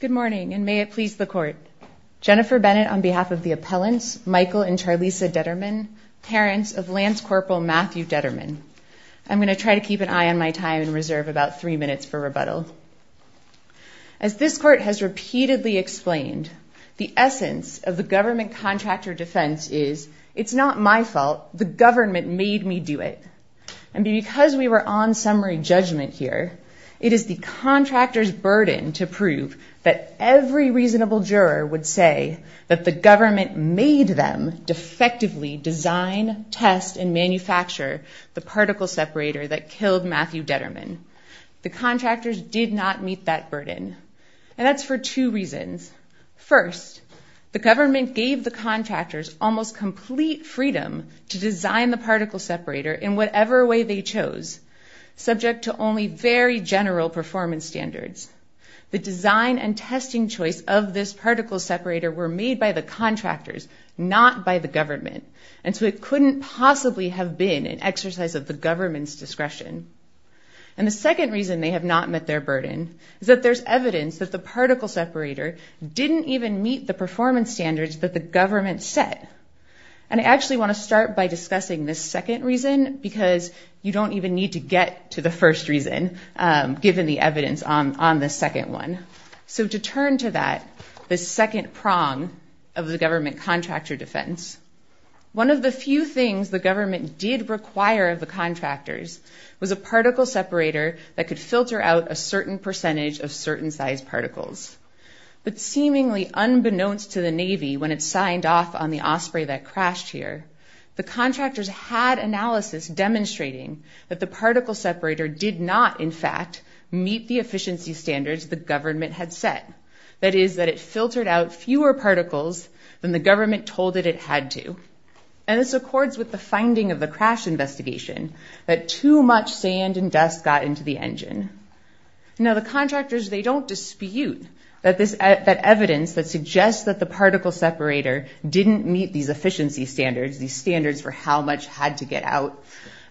Good morning, and may it please the Court. Jennifer Bennett on behalf of the appellants, Michael and Charlisa Determan, parents of Lance Corporal Matthew Determan. I'm going to try to keep an eye on my time and reserve about three minutes for rebuttal. As this Court has repeatedly explained, the essence of the government contractor defense is, it's not my fault, the government made me do it. And because we were on summary judgment here, it is the contractor's burden to prove that every reasonable juror would say that the government made them defectively design, test, and manufacture the particle separator that killed Matthew Determan. The contractors did not meet that burden, and that's for two reasons. First, the government gave the contractors almost complete freedom to design the particle separator in whatever way they chose, subject to only very general performance standards. The design and testing choice of this particle separator were made by the contractors, not by the government, and so it couldn't possibly have been an exercise of the government's discretion. And the second reason they have not met their burden is that there's evidence that the particle separator didn't even meet the performance standards that the government set. And I'll start by discussing the second reason, because you don't even need to get to the first reason, given the evidence on the second one. So to turn to that, the second prong of the government contractor defense, one of the few things the government did require of the contractors was a particle separator that could filter out a certain percentage of certain size particles. But seemingly unbeknownst to the Navy, when it signed off on the contract, the contractors had analysis demonstrating that the particle separator did not, in fact, meet the efficiency standards the government had set. That is, that it filtered out fewer particles than the government told it it had to. And this accords with the finding of the crash investigation, that too much sand and dust got into the engine. Now the contractors, they don't dispute that evidence that suggests that the particle separator didn't meet these standards for how much had to get out,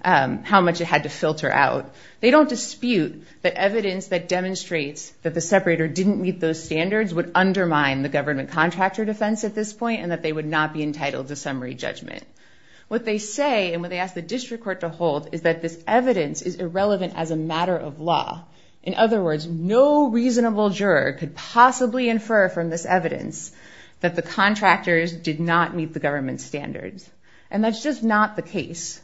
how much it had to filter out. They don't dispute the evidence that demonstrates that the separator didn't meet those standards would undermine the government contractor defense at this point, and that they would not be entitled to summary judgment. What they say, and what they ask the district court to hold, is that this evidence is irrelevant as a matter of law. In other words, no reasonable juror could possibly infer from this evidence that the contractors did not meet the government's standards. And that's just not the case.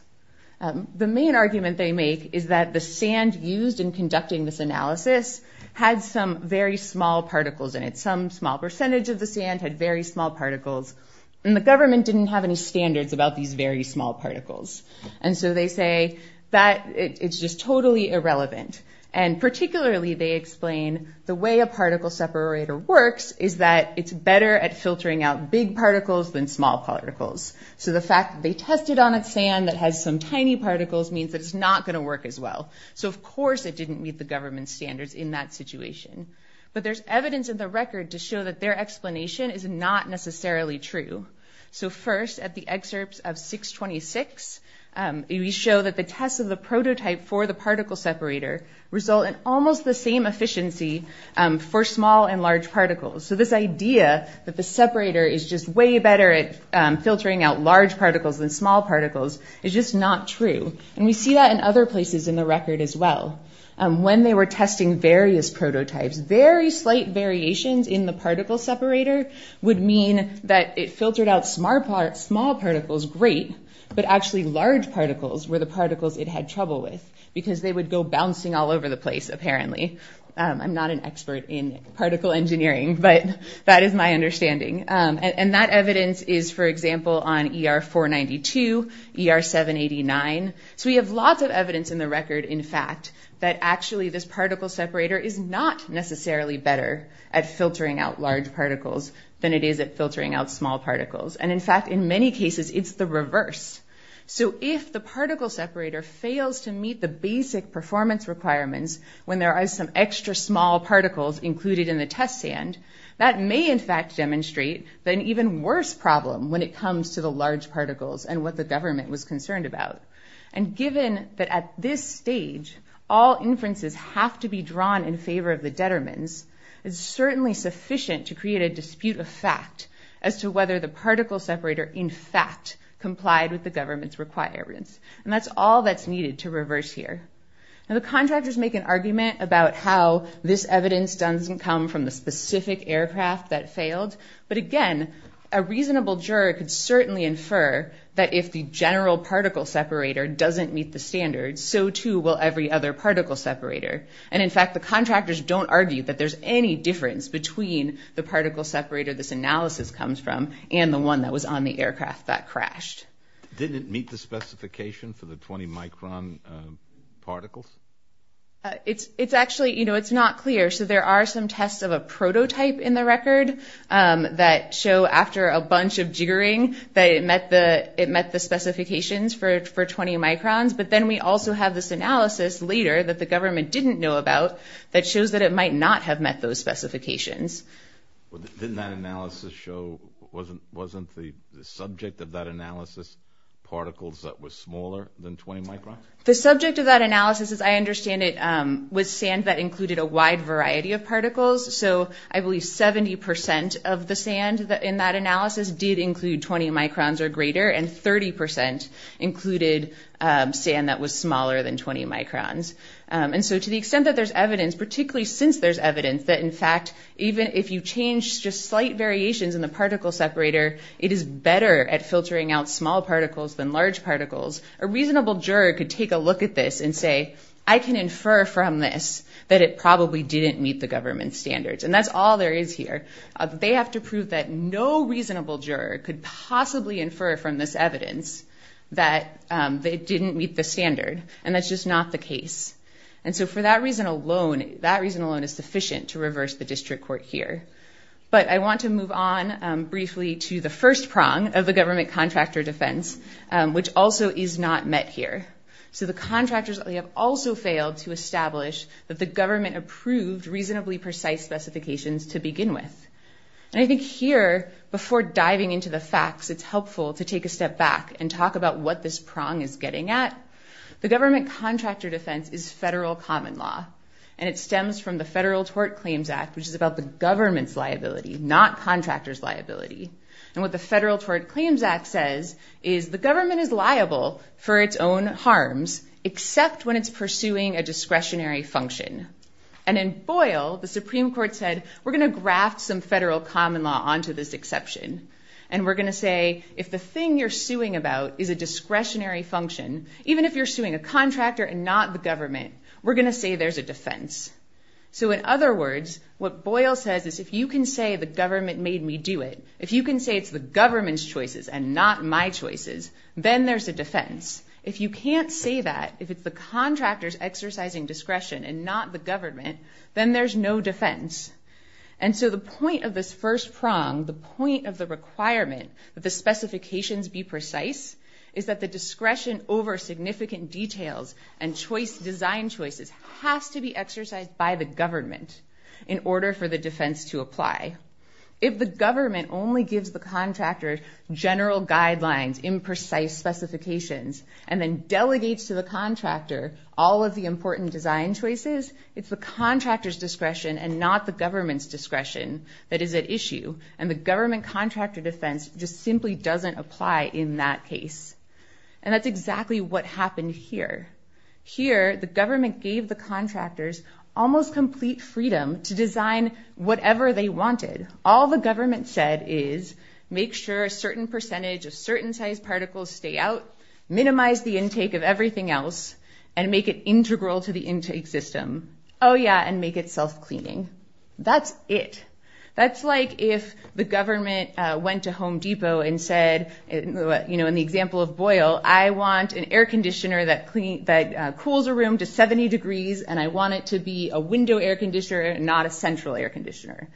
The main argument they make is that the sand used in conducting this analysis had some very small particles in it. Some small percentage of the sand had very small particles, and the government didn't have any standards about these very small particles. And so they say that it's just totally irrelevant. And particularly, they explain the way a particle separator works is that it's better at filtering out big particles than small particles. So the fact that they tested on it sand that has some tiny particles means that it's not going to work as well. So of course it didn't meet the government's standards in that situation. But there's evidence in the record to show that their explanation is not necessarily true. So first, at the excerpts of 626, we show that the tests of the prototype for the particle separator result in almost the same efficiency for small and large particles. So this idea that the government is better at filtering out large particles than small particles is just not true. And we see that in other places in the record as well. When they were testing various prototypes, very slight variations in the particle separator would mean that it filtered out small particles great, but actually large particles were the particles it had trouble with, because they would go bouncing all over the place, apparently. I'm not an expert in particle engineering, but that is my understanding. And that evidence is, for example, on ER-492, ER-789. So we have lots of evidence in the record, in fact, that actually this particle separator is not necessarily better at filtering out large particles than it is at filtering out small particles. And in fact, in many cases, it's the reverse. So if the particle separator fails to meet the basic performance requirements when there are some extra small particles included in the test stand, that may in fact demonstrate that an even worse problem when it comes to the large particles and what the government was concerned about. And given that at this stage, all inferences have to be drawn in favor of the detriments, it's certainly sufficient to create a dispute of fact as to whether the particle separator in fact complied with the government's requirements. And that's all that's needed to reverse here. Now the evidence doesn't come from the specific aircraft that failed, but again, a reasonable juror could certainly infer that if the general particle separator doesn't meet the standards, so too will every other particle separator. And in fact, the contractors don't argue that there's any difference between the particle separator this analysis comes from and the one that was on the aircraft that crashed. Didn't meet the specification for the 20 micron particles? It's actually, you know, it's not clear. So there are some tests of a prototype in the record that show after a bunch of jiggering that it met the it met the specifications for 20 microns, but then we also have this analysis later that the government didn't know about that shows that it might not have met those specifications. Didn't that analysis show, wasn't the subject of that analysis particles that was smaller than 20 microns? The subject of that analysis, as I understand it, was sand that included a wide variety of particles. So I believe 70% of the sand in that analysis did include 20 microns or greater, and 30% included sand that was smaller than 20 microns. And so to the extent that there's evidence, particularly since there's evidence, that it is better at filtering out small particles than large particles, a reasonable juror could take a look at this and say, I can infer from this that it probably didn't meet the government standards. And that's all there is here. They have to prove that no reasonable juror could possibly infer from this evidence that they didn't meet the standard. And that's just not the case. And so for that reason alone, that reason alone is sufficient to reverse the district court here. But I want to move on briefly to the first prong of the government contractor defense, which also is not met here. So the contractors have also failed to establish that the government approved reasonably precise specifications to begin with. And I think here, before diving into the facts, it's helpful to take a step back and talk about what this prong is getting at. The government contractor defense is federal common law. And it stems from the Federal Tort Claims Act, which is about the government's liability, not contractors' liability. And what the Federal Tort Claims Act says is the government is liable for its own harms, except when it's pursuing a discretionary function. And in Boyle, the Supreme Court said, we're going to graft some federal common law onto this exception. And we're going to say, if the thing you're suing about is a discretionary function, even if you're suing a contractor and not the government, we're going to say there's a defense. So in other words, what Boyle says is, if you can say the government made me do it, if you can say it's the government's choices and not my choices, then there's a defense. If you can't say that, if it's the contractor's exercising discretion and not the government, then there's no defense. And so the point of this first prong, the point of the requirement that the specifications be precise, is that the discretion over significant details and design choices has to be exercised by the government in order for the defense to apply. If the government only gives the contractor general guidelines, imprecise specifications, and then delegates to the contractor all of the important design choices, it's the contractor's discretion and not the government's discretion that is at issue. And the government contractor defense just simply doesn't apply in that case. And that's exactly what happened here. Here, the government gave the contractors almost complete freedom to design whatever they wanted. All the government said is, make sure a certain percentage of certain sized particles stay out, minimize the intake of everything else, and make it integral to the intake system. Oh, yeah, and make it self-cleaning. That's it. That's like if the government went to Home Depot and said, in the example of Boyle, I want an air conditioner that cools a room to 70 degrees, and I want it to be a window air conditioner, not a central air conditioner.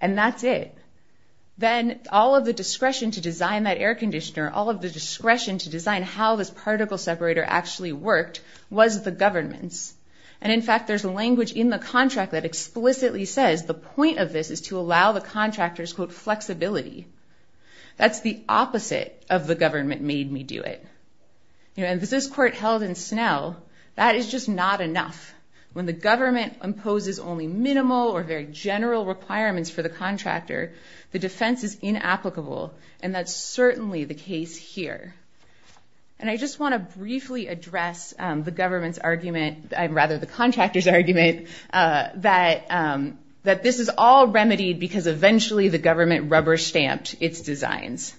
And that's it. Then all of the discretion to design that air conditioner, all of the discretion to design how this particle separator actually worked, was the government's. And in fact, there's a language in the contract that explicitly says the point of this is to allow the contractor's quote, flexibility. That's the opposite of the government made me do it. And if this court held in Snell, that is just not enough. When the government imposes only minimal or very general requirements for the contractor, the defense is inapplicable. And that's certainly the case here. And I just want to briefly address the government's argument, rather the contractor's that this is all remedied because eventually the government rubber-stamped its designs.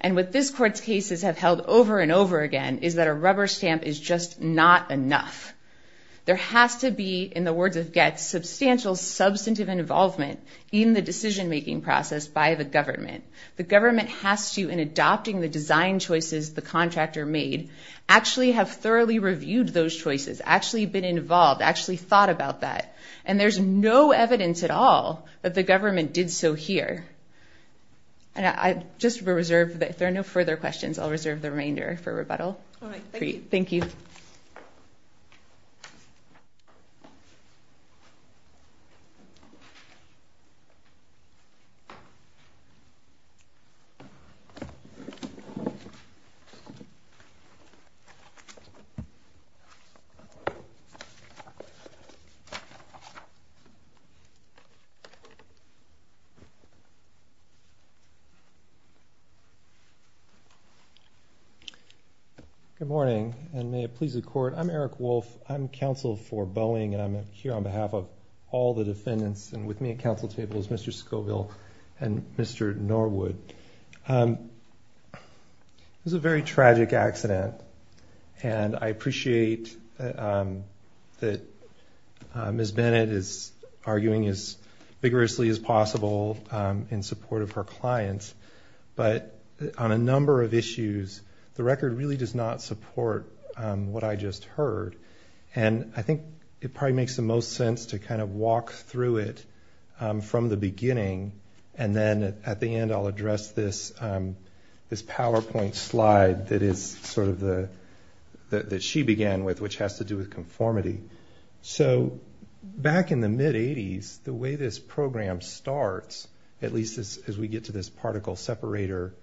And what this court's cases have held over and over again is that a rubber stamp is just not enough. There has to be, in the words of Goetz, substantial substantive involvement in the decision-making process by the government. The government has to, in adopting the design choices the contractor made, actually have thoroughly reviewed those choices, actually been involved, actually thought about that. And there's no evidence at all that the government did so here. And I just reserve, if there are no further questions, I'll reserve the remainder for rebuttal. Thank you. Good morning, and may it please the court. I'm Eric Wolf. I'm counsel for Boeing, and I'm here on behalf of all the defendants. And with me at council table is Mr. Scoville and Mr. Norwood. It was a very tragic accident, and I think that Ms. Bennett is arguing as vigorously as possible in support of her clients. But on a number of issues, the record really does not support what I just heard. And I think it probably makes the most sense to kind of walk through it from the beginning, and then at the end I'll address this PowerPoint slide that she began with, which has to do with self-cleaning. So back in the mid-80s, the way this program starts, at least as we get to this particle separator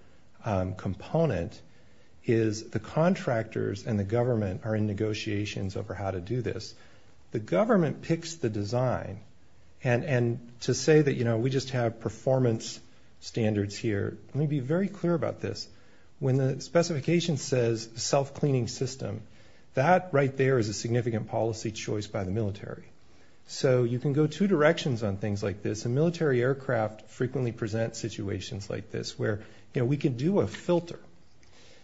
component, is the contractors and the government are in negotiations over how to do this. The government picks the design, and to say that, you know, we just have performance standards here, let me be very clear about this. When the specification says self-cleaning system, that right there is a significant policy choice by the military. So you can go two directions on things like this, and military aircraft frequently present situations like this where, you know, we can do a filter,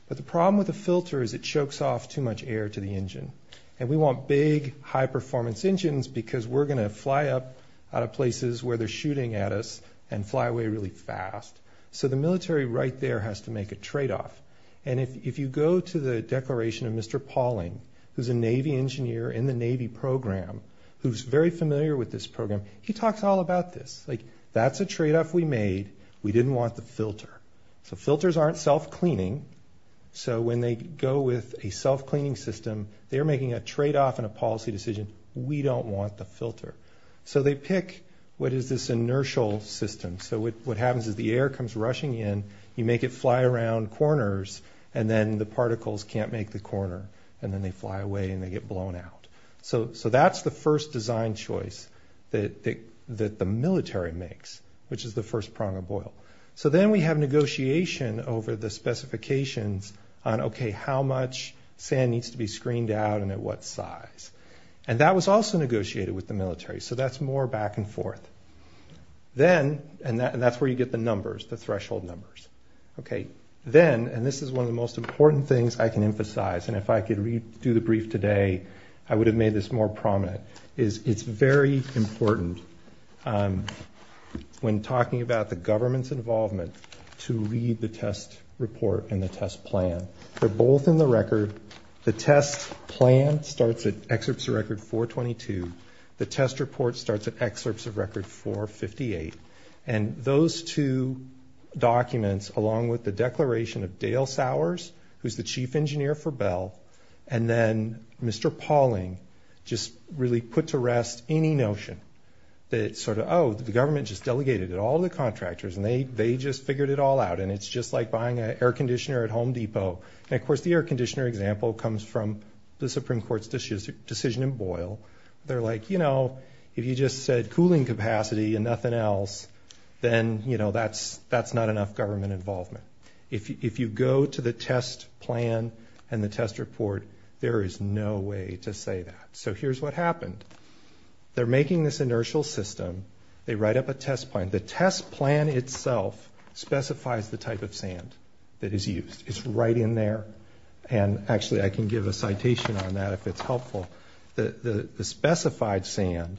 but the problem with a filter is it chokes off too much air to the engine. And we want big, high performance engines because we're going to fly up out of places where they're shooting at us and fly away really fast. So the military right there has to make a trade-off. And if you go to the declaration of Mr. Pauling, who's a Navy engineer in the Navy program, who's very familiar with this program, he talks all about this. Like, that's a trade-off we made, we didn't want the filter. So filters aren't self-cleaning, so when they go with a self-cleaning system, they're making a trade-off and a policy decision, we don't want the filter. So they pick what is this inertial system. So what happens is the air comes rushing in, you make it fly around corners, and then the particles can't make the corner, and then they fly away and they get blown out. So that's the first design choice that the military makes, which is the first prong of oil. So then we have negotiation over the specifications on, okay, how much sand needs to be screened out and at what size. And that was also negotiated with the military, so that's more back and forth. Then, and that's where you get the threshold numbers. Okay, then, and this is one of the most important things I can emphasize, and if I could do the brief today, I would have made this more prominent, is it's very important when talking about the government's involvement to read the test report and the test plan. They're both in the record. The test plan starts at excerpts of record 422, the test report starts at 422 documents, along with the declaration of Dale Sowers, who's the chief engineer for Bell, and then Mr. Pauling just really put to rest any notion that sort of, oh, the government just delegated it all to the contractors and they just figured it all out, and it's just like buying an air conditioner at Home Depot. And of course, the air conditioner example comes from the Supreme Court's decision in Boyle. They're like, you know, if you just said that's not enough government involvement. If you go to the test plan and the test report, there is no way to say that. So here's what happened. They're making this inertial system. They write up a test plan. The test plan itself specifies the type of sand that is used. It's right in there. And actually, I can give a citation on that if it's helpful. The specified sand,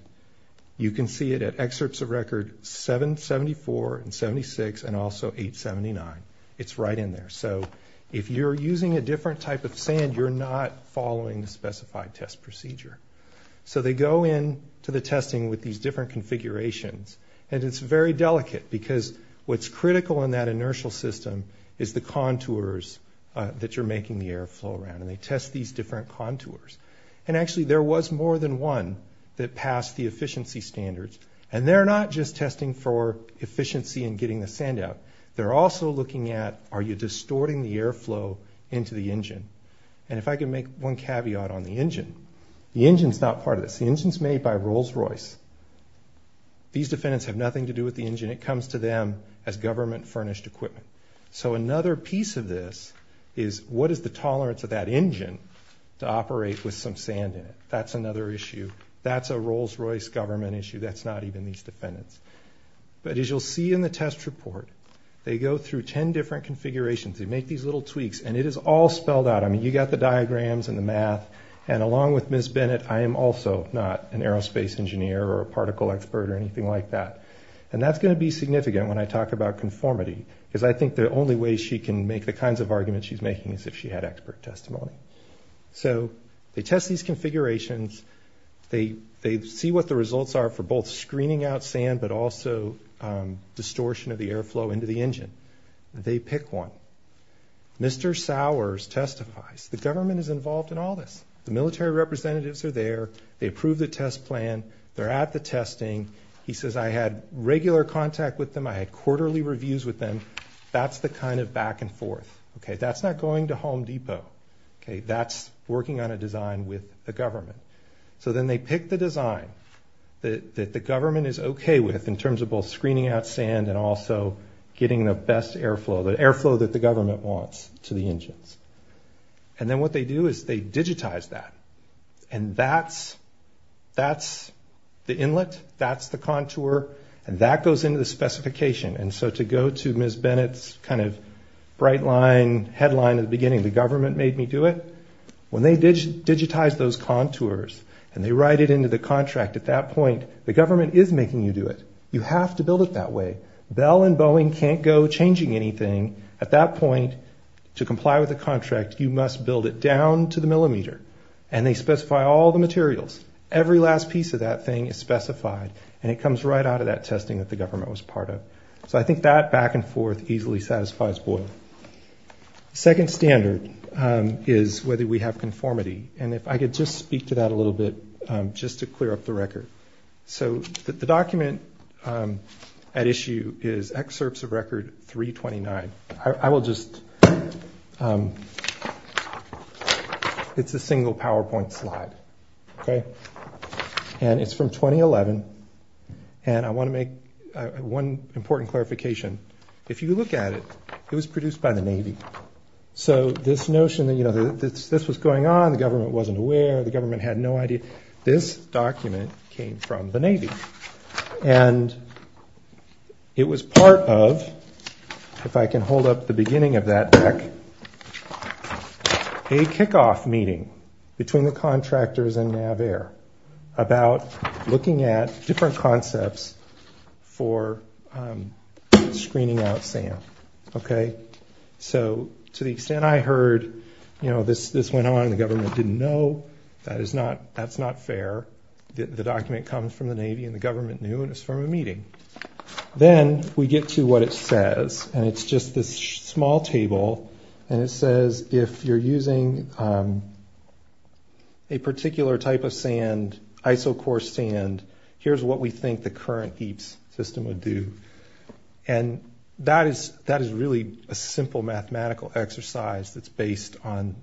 you can see it at excerpts of record 774 and 76 and also 879. It's right in there. So if you're using a different type of sand, you're not following the specified test procedure. So they go in to the testing with these different configurations, and it's very delicate because what's critical in that inertial system is the contours that you're making the air flow around, and they test these different contours. And actually, there was more than one that passed the efficiency standards, and they're not just testing for efficiency and getting the sand out. They're also looking at, are you distorting the air flow into the engine? And if I can make one caveat on the engine, the engine's not part of this. The engine's made by Rolls Royce. These defendants have nothing to do with the engine. It comes to them as government furnished equipment. So another piece of this is, what is the tolerance of that engine to operate with some sand in it? That's another issue. That's a Rolls Royce, not even these defendants. But as you'll see in the test report, they go through 10 different configurations. They make these little tweaks, and it is all spelled out. I mean, you got the diagrams and the math. And along with Ms. Bennett, I am also not an aerospace engineer or a particle expert or anything like that. And that's gonna be significant when I talk about conformity, because I think the only way she can make the kinds of arguments she's making is if she had expert testimony. So they test these configurations. They see what the results are for both screening out sand, but also distortion of the air flow into the engine. They pick one. Mr. Sowers testifies. The government is involved in all this. The military representatives are there. They approve the test plan. They're at the testing. He says, I had regular contact with them. I had quarterly reviews with them. That's the kind of back and forth. That's not going to Home Depot. That's working on a design with the government is okay with in terms of both screening out sand and also getting the best air flow, the air flow that the government wants to the engines. And then what they do is they digitize that. And that's the inlet, that's the contour, and that goes into the specification. And so to go to Ms. Bennett's kind of bright line headline at the beginning, the government made me do it. When they digitize those contours and they write it into the contract at that point, the government is making you do it. You have to build it that way. Bell and Boeing can't go changing anything at that point. To comply with the contract, you must build it down to the millimeter. And they specify all the materials. Every last piece of that thing is specified, and it comes right out of that testing that the government was part of. So I think that back and forth easily satisfies Boyle. Second standard is whether we have conformity. And if I could just speak to that a little bit, just to clear up the record. So the document at issue is Excerpts of Record 329. I will just... It's a single PowerPoint slide. Okay? And it's from 2011. And I wanna make one important clarification. If you look at it, it was produced by the Navy. So this notion that this was going on, the government wasn't aware, the government had no idea. This document came from the Navy. And it was part of, if I can hold up the beginning of that deck, a kick off meeting between the contractors and NAVAIR about looking at different concepts for screening out sand. Okay? So to the extent I heard, this went on, the government didn't know, that's not fair. The document comes from the Navy and the government knew, and it's from a meeting. Then we get to what it says, and it's just this small table. And it says, if you're using a particular type of sand, isochore sand, here's what we think the current EAPS system would do. And that is really a simple mathematical exercise that's based on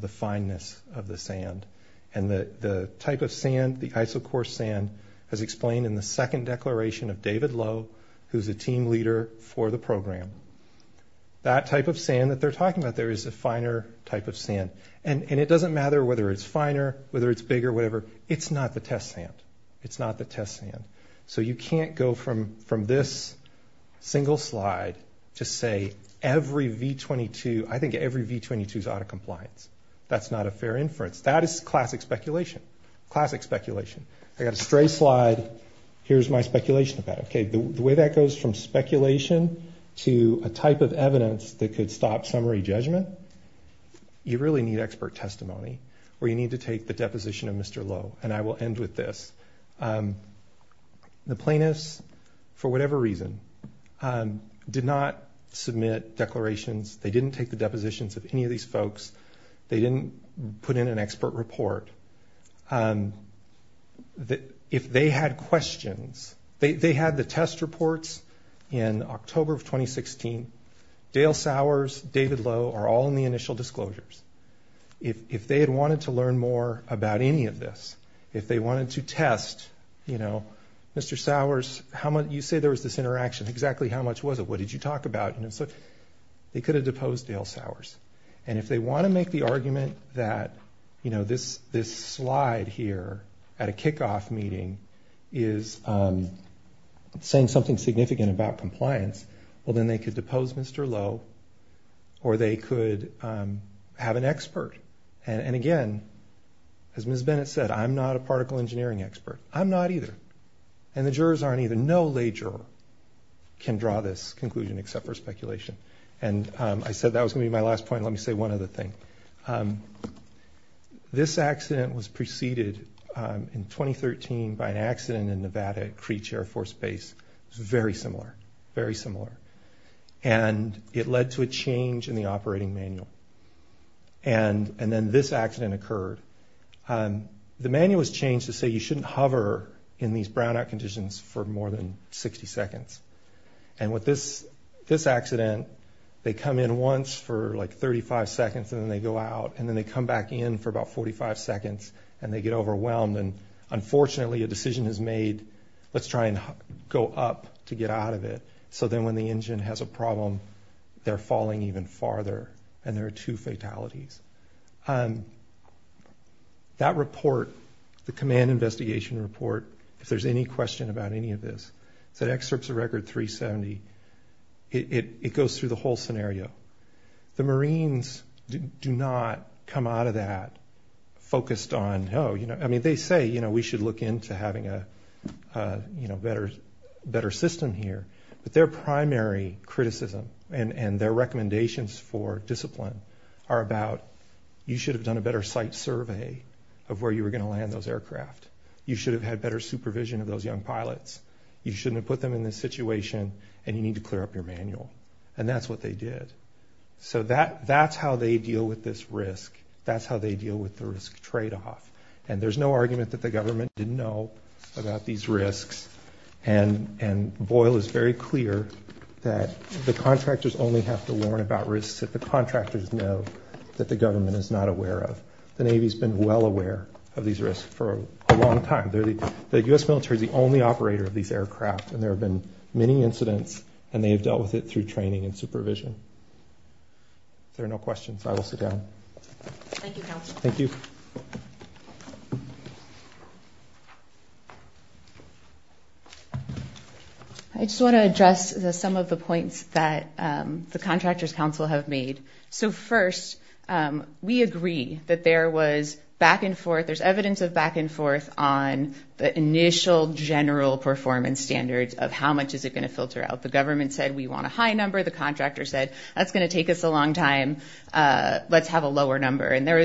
the fineness of the sand. And the type of sand, the isochore sand, has explained in the second declaration of David Lowe, who's a team leader for the program. That type of sand that they're talking about there is a finer type of sand. And it doesn't matter whether it's finer, whether it's bigger, whatever, it's not the test sand. It's not the test sand. I'm going to use this single slide to say every V-22, I think every V-22 is out of compliance. That's not a fair inference. That is classic speculation, classic speculation. I got a stray slide, here's my speculation about it. Okay, the way that goes from speculation to a type of evidence that could stop summary judgment, you really need expert testimony, or you need to take the deposition of any reason. Did not submit declarations. They didn't take the depositions of any of these folks. They didn't put in an expert report. If they had questions... They had the test reports in October of 2016. Dale Sowers, David Lowe are all in the initial disclosures. If they had wanted to learn more about any of this, if they wanted to test... Mr. Sowers, how much... You say there was this interaction, exactly how much was it? What did you talk about? And so they could have deposed Dale Sowers. And if they wanna make the argument that this slide here at a kick off meeting is saying something significant about compliance, well then they could depose Mr. Lowe, or they could have an expert. And again, as Ms. Bennett said, I'm not a particle engineering expert. I'm not either. And the jurors aren't either. No lay juror can draw this conclusion except for speculation. And I said that was gonna be my last point. Let me say one other thing. This accident was preceded in 2013 by an accident in Nevada at Creech Air Force Base. It was very similar, very similar. And it led to a change in the operating manual. And then this accident occurred. The manual was changed to say you shouldn't hover in these brownout conditions for more than 60 seconds. And with this accident, they come in once for like 35 seconds and then they go out, and then they come back in for about 45 seconds and they get overwhelmed. And unfortunately, a decision is made, let's try and go up to get out of it. So then when the engine has a problem, they're falling even farther and there are two fatalities. That report, the command investigation report, if there's any question about any of this, it's at excerpts of record 370. It goes through the whole scenario. The Marines do not come out of that focused on, oh, I mean, they say we should look into having a better system here, but their primary criticism and their recommendations for discipline are about, you should have done a better site survey of where you were gonna land those aircraft. You should have had better supervision of those young pilots. You shouldn't have put them in this situation and you need to clear up your manual. And that's what they did. So that's how they deal with this risk. That's how they deal with the risk trade off. And there's no argument that the government didn't know about these risks. And Boyle is very clear that the contractors only have to learn about risks that the contractors know that the government is not aware of. The Navy's been well aware of these risks for a long time. The US military is the only operator of these aircraft and there have been many incidents and they have dealt with it through training and supervision. If there are no questions, I will sit down. Thank you, Counselor. Thank you. I just wanna address some of the comments that the contractors council have made. So first, we agree that there was back and forth, there's evidence of back and forth on the initial general performance standards of how much is it gonna filter out. The government said, we want a high number. The contractor said, that's gonna take us a long time. Let's have a lower number. And there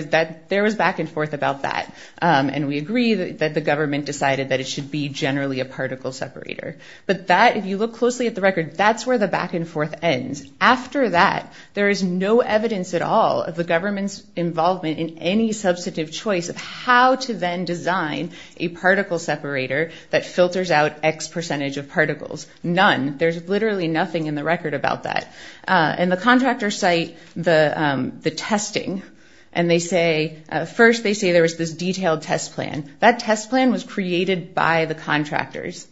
was back and forth about that. And we agree that the government decided that it should be generally a particle separator. But that, if you look closely at the record, that's where the back and forth begins. After that, there is no evidence at all of the government's involvement in any substantive choice of how to then design a particle separator that filters out X percentage of particles. None. There's literally nothing in the record about that. And the contractor cite the testing and they say... First, they say there was this detailed test plan. That test plan was created by the contractors.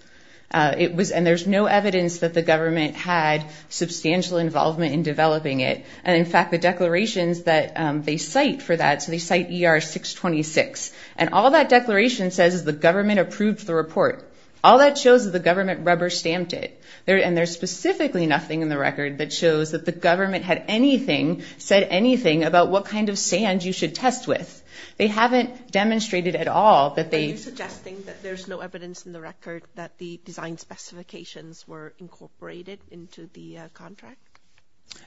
It was... And there's no evidence that the government had substantial involvement in developing it. And in fact, the declarations that they cite for that, so they cite ER 626. And all that declaration says is the government approved the report. All that shows is the government rubber stamped it. And there's specifically nothing in the record that shows that the government had anything, said anything about what kind of sand you should test with. They haven't demonstrated at all that they... Are you suggesting that there's no evidence in the record that the design specifications were incorporated into the contract?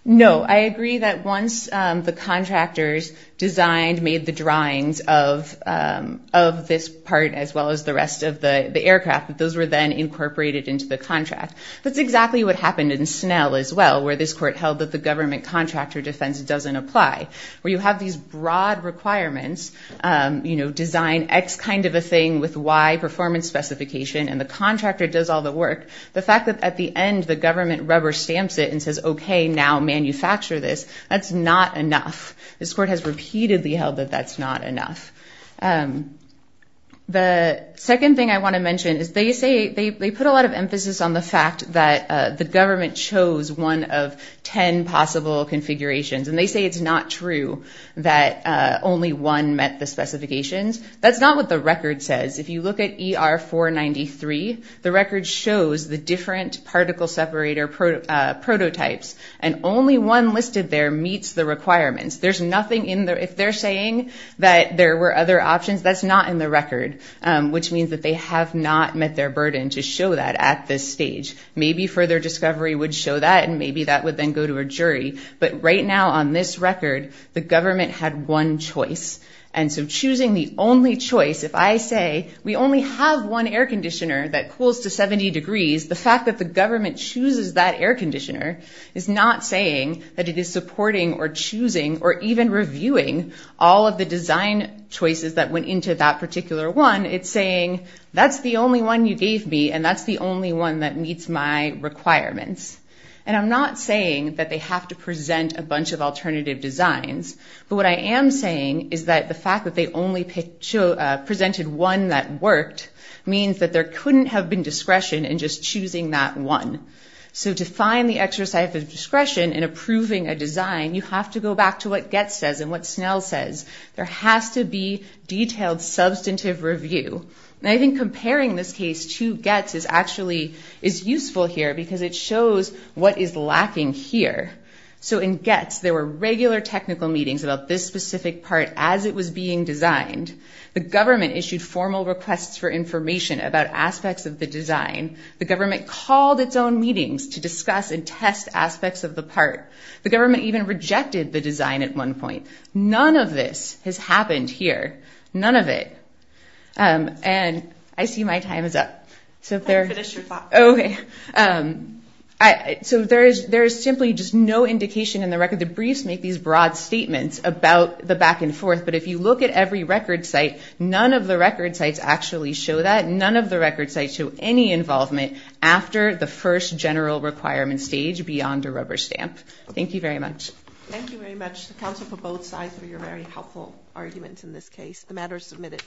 No. I agree that once the contractors designed, made the drawings of this part as well as the rest of the aircraft, that those were then incorporated into the contract. That's exactly what happened in Snell as well, where this court held that the government contractor defense doesn't apply. Where you have these broad requirements, design X kind of a thing with Y performance specification, and the contractor does all the work. The fact that at the end, the government rubber stamps it and says, okay, now manufacture this, that's not enough. This court has repeatedly held that that's not enough. The second thing I wanna mention is they say... They put a lot of emphasis on the fact that the government chose one of 10 possible configurations, and they say it's not true that only one met the specifications. That's not what the record says. If you look at ER 493, the record shows the different particle separator prototypes, and only one listed there meets the requirements. There's nothing in there... If they're saying that there were other options, that's not in the record, which means that they have not met their burden to show that at this stage. Maybe further discovery would show that, and maybe that would then go to a jury. But right now, on this record, the government had one choice. And so choosing the only choice, if I say, we only have one air conditioner that cools to 70 degrees, the fact that the government chooses that air conditioner is not saying that it is supporting or choosing or even reviewing all of the design choices that went into that particular one. It's saying, that's the only one you gave me, and that's the only one that is saying that they have to present a bunch of alternative designs. But what I am saying is that the fact that they only presented one that worked means that there couldn't have been discretion in just choosing that one. So to find the exercise of discretion in approving a design, you have to go back to what Getz says and what Snell says. There has to be detailed substantive review. And I think comparing this case to Getz is actually... Is useful here because it shows what is lacking here. So in Getz, there were regular technical meetings about this specific part as it was being designed. The government issued formal requests for information about aspects of the design. The government called its own meetings to discuss and test aspects of the part. The government even rejected the design at one point. None of this has happened here, none of it. And I see my time is up. So there... I'll finish your thought. Okay. So there is simply just no indication in the record. The briefs make these broad statements about the back and forth, but if you look at every record site, none of the record sites actually show that. None of the record sites show any involvement after the first general requirement stage beyond a rubber stamp. Thank you very much. Thank you very much to counsel for both sides for your very helpful arguments in this case. The matter is submitted.